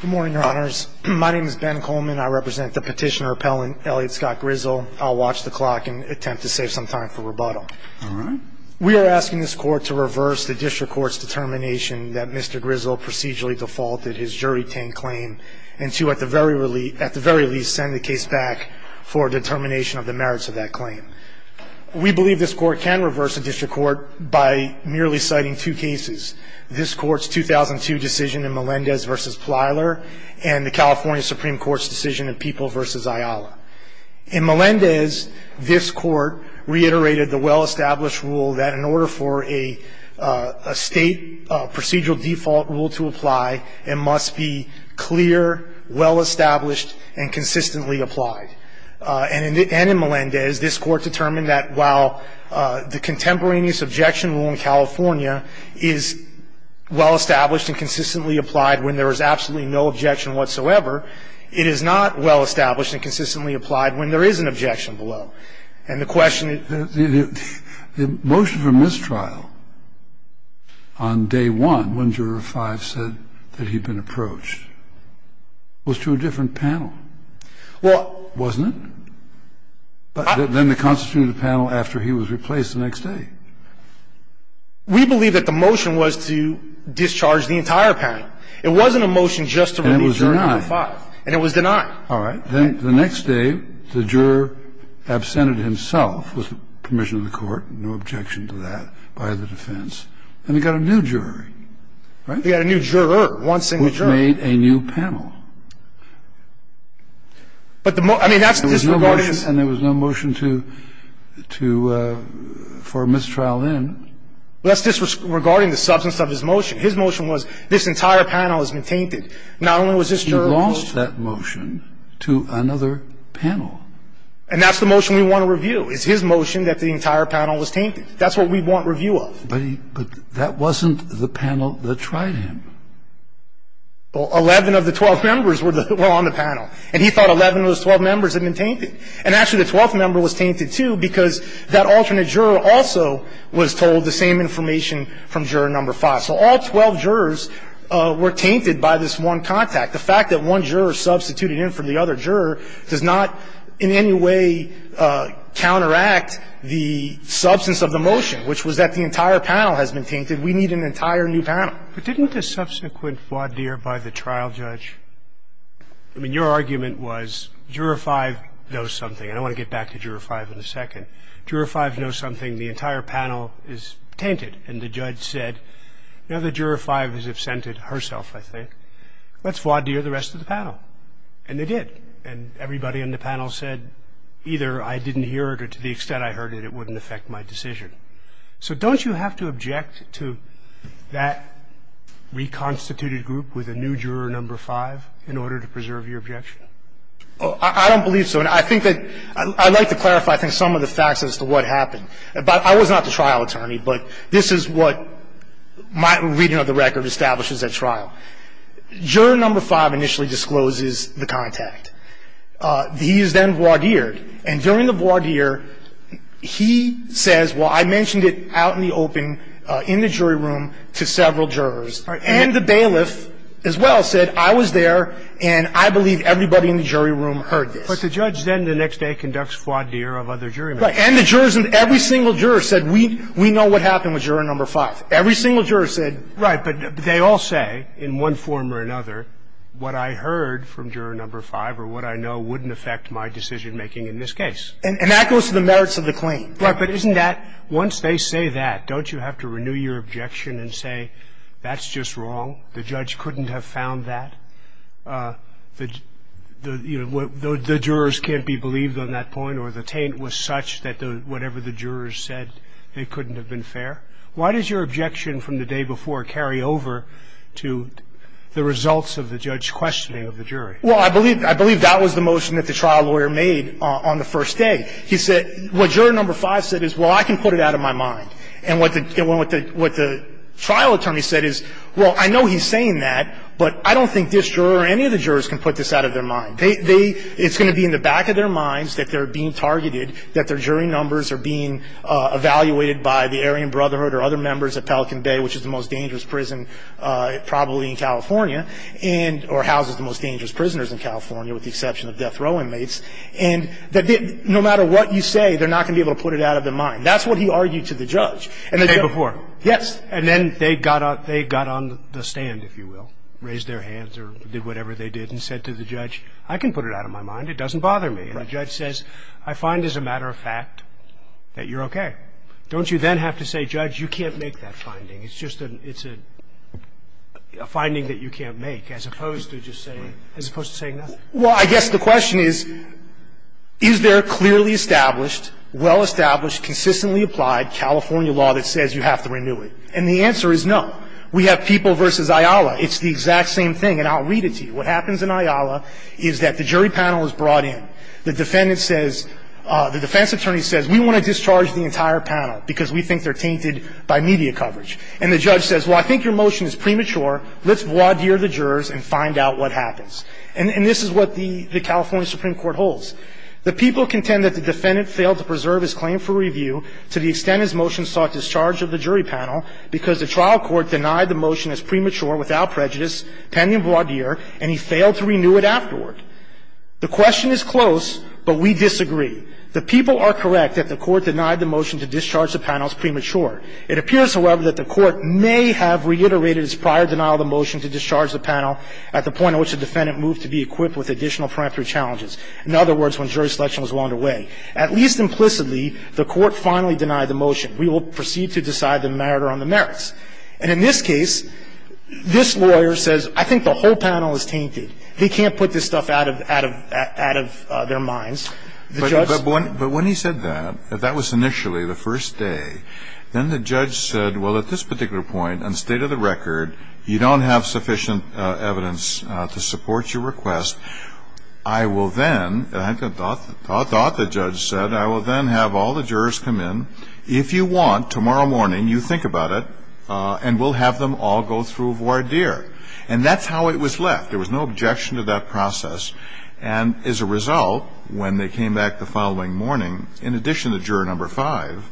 Good morning, your honors. My name is Ben Coleman. I represent the petitioner appellant, Elliot Scott Grizzle. I'll watch the clock and attempt to save some time for rebuttal. We are asking this court to reverse the district court's determination that Mr. Grizzle procedurally defaulted his jury-tained claim and to, at the very least, send the case back for determination of the merits of that claim. We believe this court can reverse the district court by merely citing two cases, this court's 2002 decision in Melendez v. Plyler and the California Supreme Court's decision in People v. Ayala. In Melendez, this court reiterated the well-established rule that in order for a state procedural default rule to apply, it must be clear, well-established, and consistently applied. And in Melendez, this court determined that while the contemporaneous objection rule in California is well-established and consistently applied when there is absolutely no objection whatsoever, it is not well-established and consistently applied when there is an objection below. And the question is the motion for mistrial on day one, when Juror 5 said that he'd been approached, was to a different panel. Well, wasn't it? Then they constituted a panel after he was replaced the next day. We believe that the motion was to discharge the entire panel. It wasn't a motion just to release Juror 5. And it was denied. And it was denied. All right. Then the next day, the juror absented himself with the permission of the court, no objection to that by the defense, and he got a new jury, right? He got a new juror, one single juror. It was a new panel. And there was no motion to --- for mistrial then. That's disregarding the substance of his motion. His motion was this entire panel has been tainted. Not only was this juror ---- He lost that motion to another panel. And that's the motion we want to review, is his motion that the entire panel was tainted. That's what we want review of. But that wasn't the panel that tried him. Well, 11 of the 12 members were on the panel. And he thought 11 of those 12 members had been tainted. And actually the 12th member was tainted, too, because that alternate juror also was told the same information from juror number five. So all 12 jurors were tainted by this one contact. The fact that one juror substituted in for the other juror does not in any way counteract the substance of the motion, which was that the entire panel has been tainted. We need an entire new panel. But didn't the subsequent voir dire by the trial judge ---- I mean, your argument was juror five knows something. And I want to get back to juror five in a second. Juror five knows something. The entire panel is tainted. And the judge said, you know, the juror five has absented herself, I think. Let's voir dire the rest of the panel. And they did. And everybody on the panel said either I didn't hear it or to the extent I heard it, it wouldn't affect my decision. So don't you have to object to that reconstituted group with a new juror number five in order to preserve your objection? Oh, I don't believe so. And I think that ---- I'd like to clarify, I think, some of the facts as to what happened. I was not the trial attorney, but this is what my reading of the record establishes at trial. Juror number five initially discloses the contact. He is then voir dire. And during the voir dire, he says, well, I mentioned it out in the open in the jury room to several jurors. And the bailiff as well said I was there and I believe everybody in the jury room heard this. But the judge then the next day conducts voir dire of other jury members. Right. And the jurors, every single juror said we know what happened with juror number five. Every single juror said ---- Right. But they all say in one form or another what I heard from juror number five or what I know So I'm not going to say that it wouldn't affect my decision-making in this case. And that goes to the merits of the claim. Right. But isn't that ---- Once they say that, don't you have to renew your objection and say that's just wrong, the judge couldn't have found that, the jurors can't be believed on that point, or the taint was such that whatever the jurors said, it couldn't have been fair? Why does your objection from the day before carry over to the results of the judge's questioning of the jury? Well, I believe that was the motion that the trial lawyer made on the first day. He said what juror number five said is, well, I can put it out of my mind. And what the trial attorney said is, well, I know he's saying that, but I don't think this juror or any of the jurors can put this out of their mind. It's going to be in the back of their minds that they're being targeted, that their jury numbers are being evaluated by the Aryan Brotherhood or other members of Pelican Bay, which is the most dangerous prison probably in California, or houses the most dangerous prisoners in California with the exception of death row inmates, and that no matter what you say, they're not going to be able to put it out of their mind. That's what he argued to the judge. The day before? Yes. And then they got on the stand, if you will, raised their hands or did whatever they did and said to the judge, I can put it out of my mind. It doesn't bother me. And the judge says, I find as a matter of fact that you're okay. Don't you then have to say, judge, you can't make that finding? It's just a finding that you can't make, as opposed to just saying, as opposed to saying nothing. Well, I guess the question is, is there clearly established, well established, consistently applied California law that says you have to renew it? And the answer is no. We have People v. Ayala. It's the exact same thing. And I'll read it to you. What happens in Ayala is that the jury panel is brought in. The defendant says the defense attorney says we want to discharge the entire panel because we think they're tainted by media coverage. And the judge says, well, I think your motion is premature. Let's voir dire the jurors and find out what happens. And this is what the California Supreme Court holds. The people contend that the defendant failed to preserve his claim for review to the extent his motion sought discharge of the jury panel because the trial court denied the motion as premature without prejudice, pending a broad year, and he failed to renew it afterward. The question is close, but we disagree. The people are correct that the Court denied the motion to discharge the panel as premature. It appears, however, that the Court may have reiterated its prior denial of the motion to discharge the panel at the point at which the defendant moved to be equipped with additional preemptive challenges. In other words, when jury selection was well underway. At least implicitly, the Court finally denied the motion. We will proceed to decide the merit or on the merits. And in this case, this lawyer says, I think the whole panel is tainted. They can't put this stuff out of their minds. The judge's. But when he said that, that was initially the first day. Then the judge said, well, at this particular point, on state of the record, you don't have sufficient evidence to support your request. I will then, I thought the judge said, I will then have all the jurors come in. If you want, tomorrow morning, you think about it. And we'll have them all go through voir dire. And that's how it was left. There was no objection to that process. And as a result, when they came back the following morning, in addition to juror number five,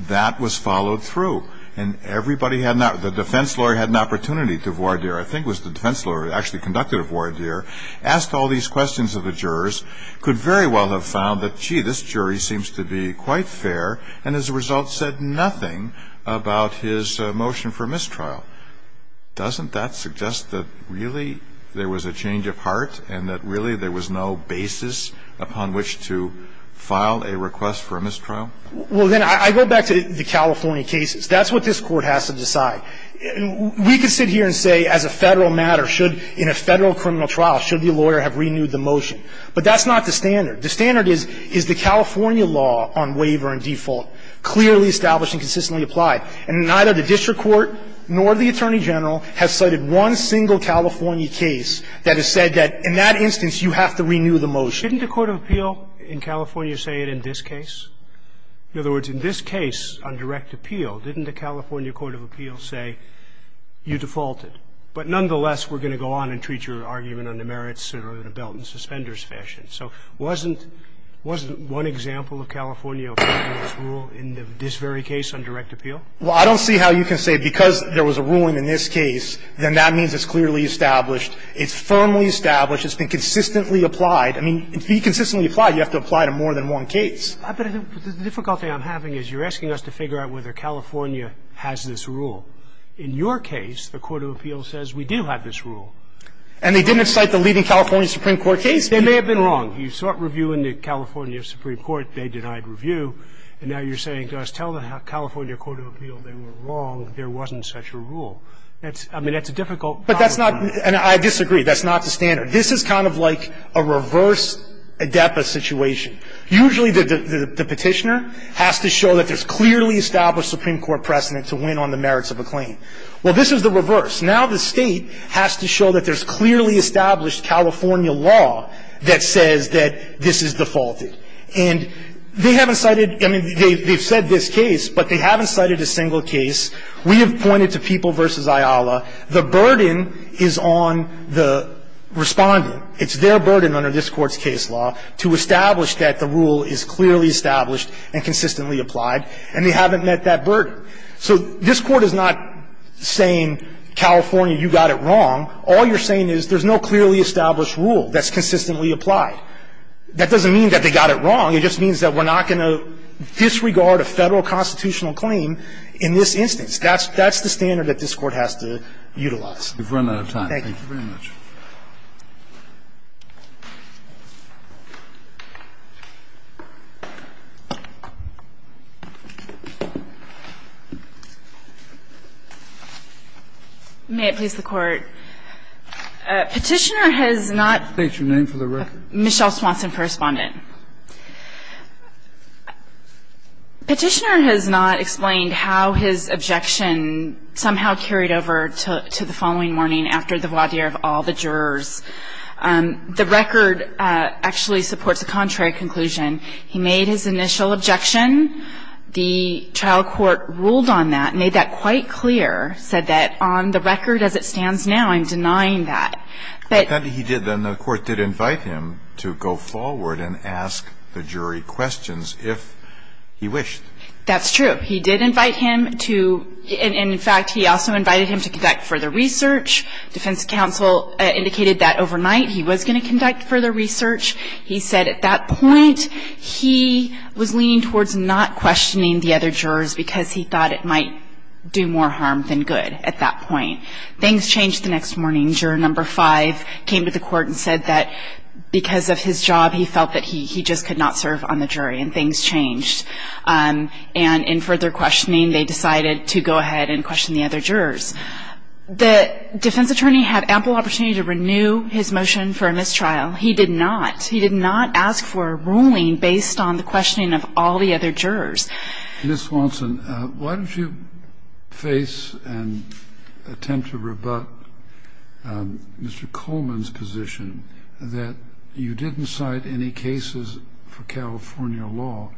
that was followed through. And everybody had not. The defense lawyer had an opportunity to voir dire. I think it was the defense lawyer who actually conducted a voir dire. Asked all these questions of the jurors. And the defense lawyer, who was very well aware of the jurors' concerns, could very well have found that, gee, this jury seems to be quite fair and, as a result, said nothing about his motion for mistrial. Doesn't that suggest that really there was a change of heart and that really there was no basis upon which to file a request for a mistrial? Well, then I go back to the California cases. That's what this Court has to decide. We could sit here and say, as a Federal matter, should, in a Federal criminal trial, should the lawyer have renewed the motion. But that's not the standard. The standard is, is the California law on waiver and default clearly established and consistently applied? And neither the district court nor the Attorney General have cited one single California case that has said that, in that instance, you have to renew the motion. Didn't the court of appeal in California say it in this case? In other words, in this case on direct appeal, didn't the California court of appeal say you defaulted? But nonetheless, we're going to go on and treat your argument under merits or in a belt and suspenders fashion. So wasn't one example of California applying this rule in this very case on direct appeal? Well, I don't see how you can say because there was a ruling in this case, then that means it's clearly established. It's firmly established. It's been consistently applied. I mean, to be consistently applied, you have to apply to more than one case. But the difficulty I'm having is you're asking us to figure out whether California has this rule. In your case, the court of appeal says we do have this rule. And they didn't cite the leading California Supreme Court case? They may have been wrong. You sought review in the California Supreme Court. They denied review. And now you're saying to us, tell the California court of appeal they were wrong, there wasn't such a rule. That's – I mean, that's a difficult problem. But that's not – and I disagree. That's not the standard. This is kind of like a reverse ADEPA situation. Usually the petitioner has to show that there's clearly established Supreme Court precedent to win on the merits of a claim. Well, this is the reverse. Now the State has to show that there's clearly established California law that says that this is defaulted. And they haven't cited – I mean, they've said this case, but they haven't cited a single case. We have pointed to People v. Ayala. The burden is on the Respondent. It's their burden under this Court's case law to establish that the rule is clearly established and consistently applied, and they haven't met that burden. So this Court is not saying, California, you got it wrong. All you're saying is there's no clearly established rule that's consistently applied. That doesn't mean that they got it wrong. It just means that we're not going to disregard a Federal constitutional That's the standard that this Court has to utilize. We've run out of time. Thank you very much. May it please the Court. Petitioner has not – State your name for the record. Michelle Swanson, Correspondent. Petitioner has not explained how his objection somehow carried over to the following morning after the voir dire of all the jurors. The record actually supports a contrary conclusion. He made his initial objection. The trial court ruled on that, made that quite clear, said that on the record as it stands now, I'm denying that. But – If that's what he did, then the Court did invite him to go forward and ask the jury questions if he wished. That's true. He did invite him to – and, in fact, he also invited him to conduct further research. Defense counsel indicated that overnight he was going to conduct further research. He said at that point he was leaning towards not questioning the other jurors because he thought it might do more harm than good at that point. Things changed the next morning. Juror number five came to the Court and said that because of his job, he felt that he just could not serve on the jury. And things changed. And in further questioning, they decided to go ahead and question the other jurors. The defense attorney had ample opportunity to renew his motion for a mistrial. He did not. He did not ask for a ruling based on the questioning of all the other jurors. Ms. Watson, why don't you face and attempt to rebut Mr. Coleman's position that you didn't cite any cases for California law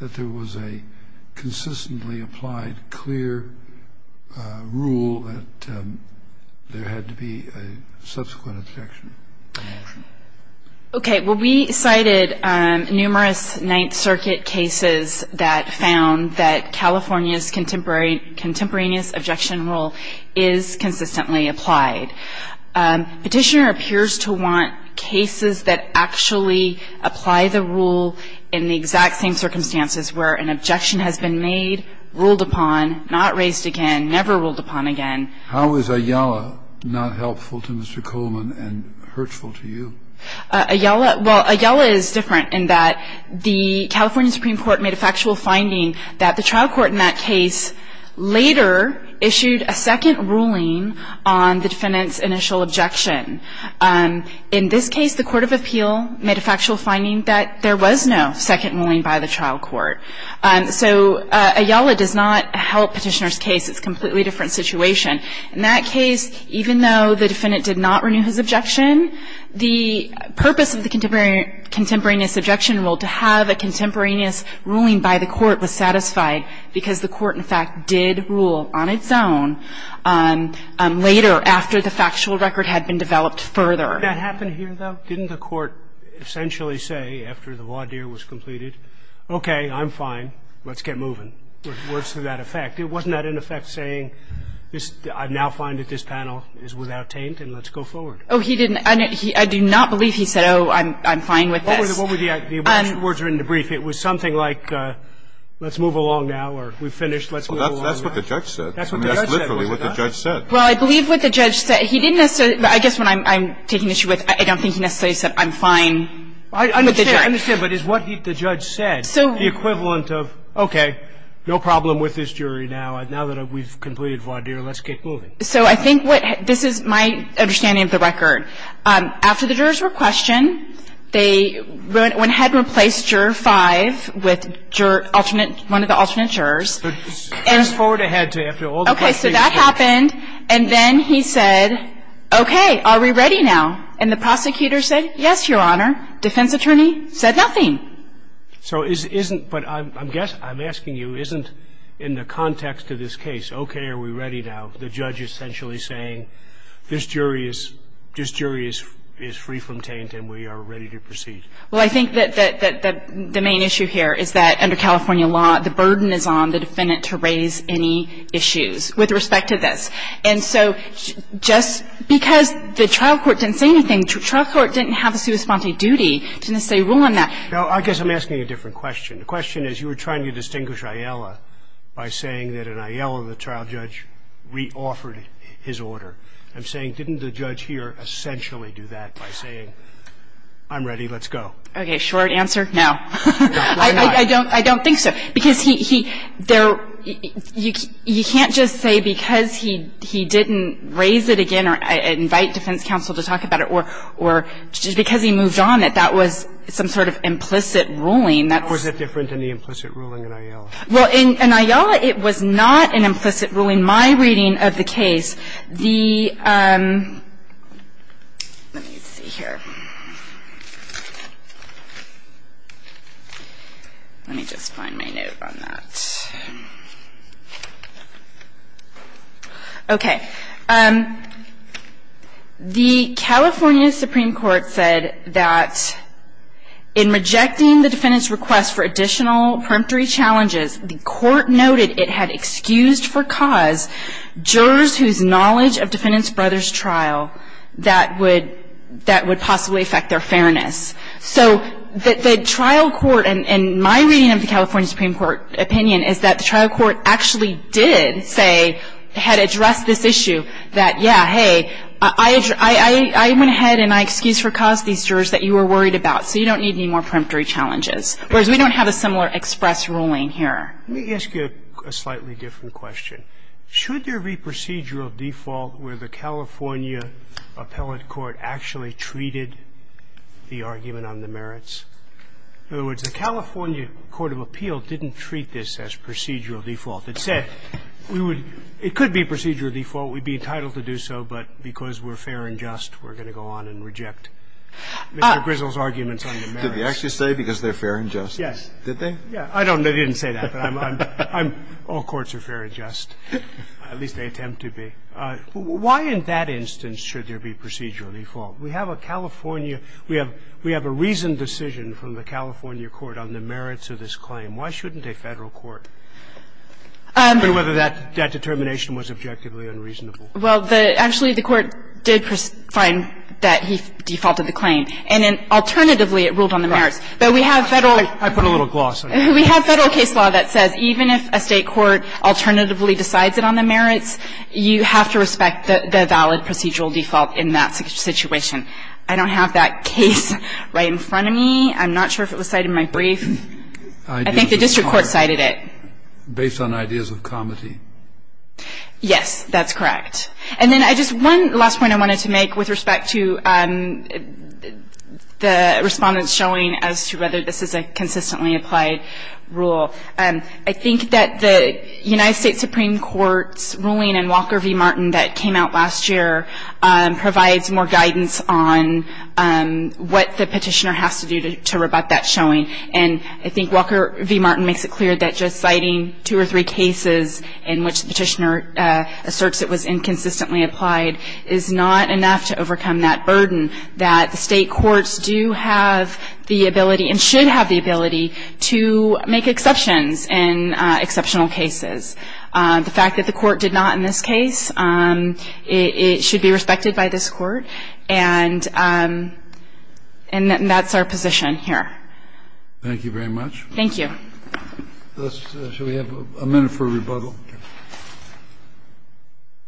that there was a consistently applied clear rule that there had to be a subsequent objection to the motion? Okay. Well, we cited numerous Ninth Circuit cases that found that California's contemporaneous objection rule is consistently applied. Petitioner appears to want cases that actually apply the rule in the exact same circumstances where an objection has been made, ruled upon, not raised again, never ruled upon again. How is Ayala not helpful to Mr. Coleman and hurtful to you? Ayala? Well, Ayala is different in that the California Supreme Court made a factual finding that the trial court in that case later issued a second ruling on the defendant's initial objection. In this case, the court of appeal made a factual finding that there was no second ruling by the trial court. So Ayala does not help Petitioner's case. It's a completely different situation. In that case, even though the defendant did not renew his objection, the purpose of the contemporaneous objection rule to have a contemporaneous ruling by the court was satisfied because the court, in fact, did rule on its own later, after the factual record had been developed further. Did that happen here, though? Didn't the court essentially say, after the voir dire was completed, okay, I'm fine. Let's get moving. Words to that effect. It wasn't that, in effect, saying, I now find that this panel is without taint, and let's go forward. Oh, he didn't. I do not believe he said, oh, I'm fine with this. What were the words in the brief? It was something like, let's move along now, or we've finished. Let's move along now. That's what the judge said. That's what the judge said. I mean, that's literally what the judge said. Well, I believe what the judge said. He didn't necessarily – I guess what I'm taking issue with, I don't think he necessarily said, I'm fine with the jury. I understand. I understand. But is what the judge said the equivalent of, okay, no problem with this jury now. Now that we've completed voir dire, let's get moving. So I think what – this is my understanding of the record. After the jurors were questioned, they went ahead and replaced juror 5 with juror alternate – one of the alternate jurors. But fast forward ahead to after all the questioning was done. Okay. So that happened, and then he said, okay, are we ready now? And the prosecutor said, yes, Your Honor. Defense attorney said nothing. So isn't – but I'm asking you, isn't in the context of this case, okay, are we ready now? The judge essentially saying, this jury is free from taint and we are ready to proceed. Well, I think that the main issue here is that under California law, the burden is on the defendant to raise any issues with respect to this. And so just because the trial court didn't say anything, the trial court didn't have a sui sponte duty to necessarily rule on that. Well, I guess I'm asking a different question. The question is, you were trying to distinguish Aiella by saying that in Aiella, the trial judge reoffered his order. I'm saying, didn't the judge here essentially do that by saying, I'm ready, let's go? Okay. Short answer, no. Why not? I don't think so. Because he – you can't just say because he didn't raise it again or invite defense counsel to talk about it or just because he moved on that that was some sort of implicit ruling. That's – How is that different than the implicit ruling in Aiella? Well, in Aiella, it was not an implicit ruling. My reading of the case, the – let me see here. Let me just find my note on that. Okay. The California Supreme Court said that in rejecting the defendant's request for additional preemptory challenges, the court noted it had excused for cause jurors whose knowledge of defendant's brother's trial that would – that would possibly affect their fairness. So the trial court – and my reading of the California Supreme Court opinion is that the trial court actually did say – had addressed this issue that, yeah, hey, I went ahead and I excused for cause these jurors that you were worried about, so you don't need any more preemptory challenges, whereas we don't have a similar express ruling here. Let me ask you a slightly different question. Should there be procedural default where the California appellate court actually treated the argument on the merits? In other words, the California court of appeal didn't treat this as procedural default. It said we would – it could be procedural default. We'd be entitled to do so, but because we're fair and just, we're going to go on and reject Mr. Grizzle's arguments on the merits. Did they actually say because they're fair and just? Yes. Did they? Yeah. I don't know. They didn't say that, but I'm – all courts are fair and just. At least they attempt to be. Why in that instance should there be procedural default? We have a California – we have a reasoned decision from the California court on the merits of this claim. Why shouldn't a Federal court? I don't know whether that determination was objectively unreasonable. Well, the – actually, the Court did find that he defaulted the claim. And then alternatively, it ruled on the merits. But we have Federal – I put a little gloss on it. We have Federal case law that says even if a State court alternatively decides it on the merits, you have to respect the valid procedural default in that situation. I don't have that case right in front of me. I'm not sure if it was cited in my brief. I think the district court cited it. Ideas of comedy. Based on ideas of comedy. Yes, that's correct. And then I just – one last point I wanted to make with respect to the Respondent's showing as to whether this is a consistently applied rule. I think that the United States Supreme Court's ruling in Walker v. Martin that came out last year provides more guidance on what the Petitioner has to do to rebut that showing. And I think Walker v. Martin makes it clear that just citing two or three cases in which the Petitioner asserts it was inconsistently applied is not enough to overcome that burden, that the State courts do have the ability and should have the ability to make exceptions in exceptional cases. The fact that the Court did not in this case, it should be respected by this Court. And that's our position here. Thank you very much. Thank you. Shall we have a minute for rebuttal?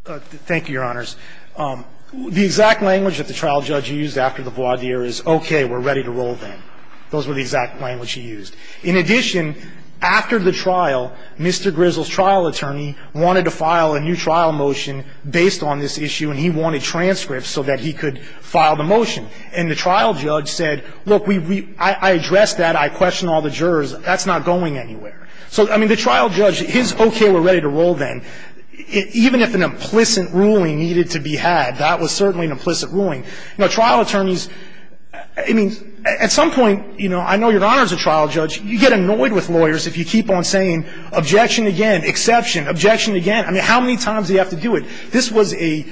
Thank you, Your Honors. The exact language that the trial judge used after the voir dire is, okay, we're ready to roll then. Those were the exact language he used. In addition, after the trial, Mr. Grizzle's trial attorney wanted to file a new trial motion based on this issue, and he wanted transcripts so that he could file the motion. And the trial judge said, look, I addressed that. I questioned all the jurors. That's not going anywhere. So, I mean, the trial judge, his okay, we're ready to roll then, even if an implicit ruling needed to be had, that was certainly an implicit ruling. Now, trial attorneys, I mean, at some point, you know, I know Your Honors, a trial judge, you get annoyed with lawyers if you keep on saying objection again, exception, objection again. I mean, how many times do you have to do it? This was a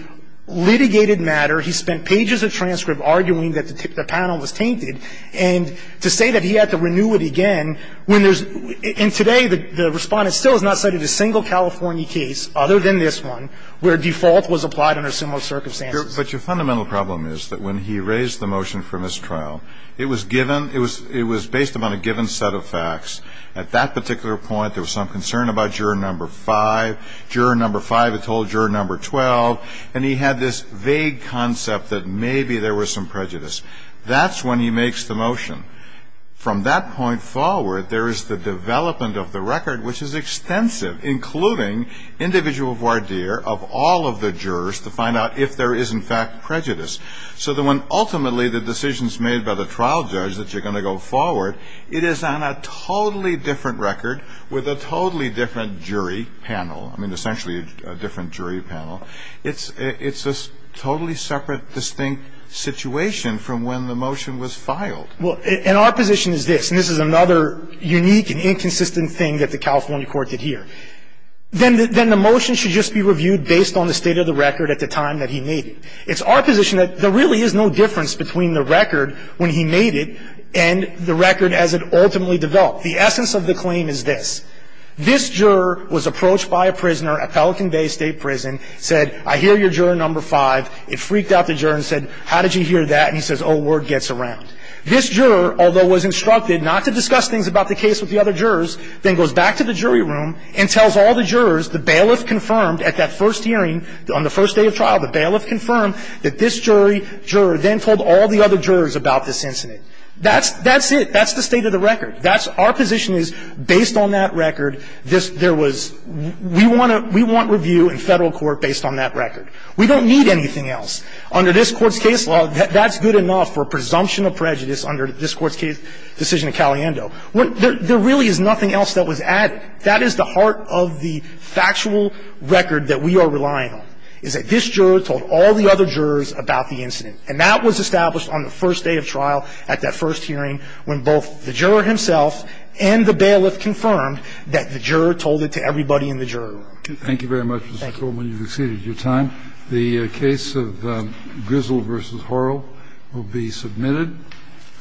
litigated matter. He spent pages of transcript arguing that the panel was tainted. And to say that he had to renew it again when there's – and today the Respondent still has not cited a single California case other than this one where default was applied under similar circumstances. But your fundamental problem is that when he raised the motion for mistrial, it was given – it was based upon a given set of facts. At that particular point, there was some concern about juror number 5. Juror number 5 had told juror number 12, and he had this vague concept that maybe there was some prejudice. That's when he makes the motion. From that point forward, there is the development of the record, which is extensive, including individual voir dire of all of the jurors to find out if there is in fact prejudice. So that when ultimately the decision is made by the trial judge that you're going to go forward, it is on a totally different record with a totally different jury panel. I mean, essentially a different jury panel. It's a totally separate, distinct situation from when the motion was filed. Well, and our position is this, and this is another unique and inconsistent thing that the California court did here. Then the motion should just be reviewed based on the state of the record at the time that he made it. It's our position that there really is no difference between the record when he made it and the record as it ultimately developed. The essence of the claim is this. This juror was approached by a prisoner at Pelican Bay State Prison, said, I hear your juror number 5. It freaked out the juror and said, how did you hear that? And he says, oh, word gets around. This juror, although was instructed not to discuss things about the case with the other jurors, then goes back to the jury room and tells all the jurors the bailiff confirmed at that first hearing, on the first day of trial, the bailiff confirmed that this jury juror then told all the other jurors about this incident. That's it. That's the state of the record. That's our position is, based on that record, there was we want review in Federal Court based on that record. We don't need anything else. Under this Court's case law, that's good enough for a presumption of prejudice under this Court's case, decision of Caliendo. There really is nothing else that was added. That is the heart of the factual record that we are relying on, is that this juror told all the other jurors about the incident, and that was established on the first day of trial at that first hearing when both the juror himself and the bailiff confirmed that the juror told it to everybody in the jury room. Thank you very much, Mr. Coleman. You've exceeded your time. The case of Grizzle v. Horrell will be submitted.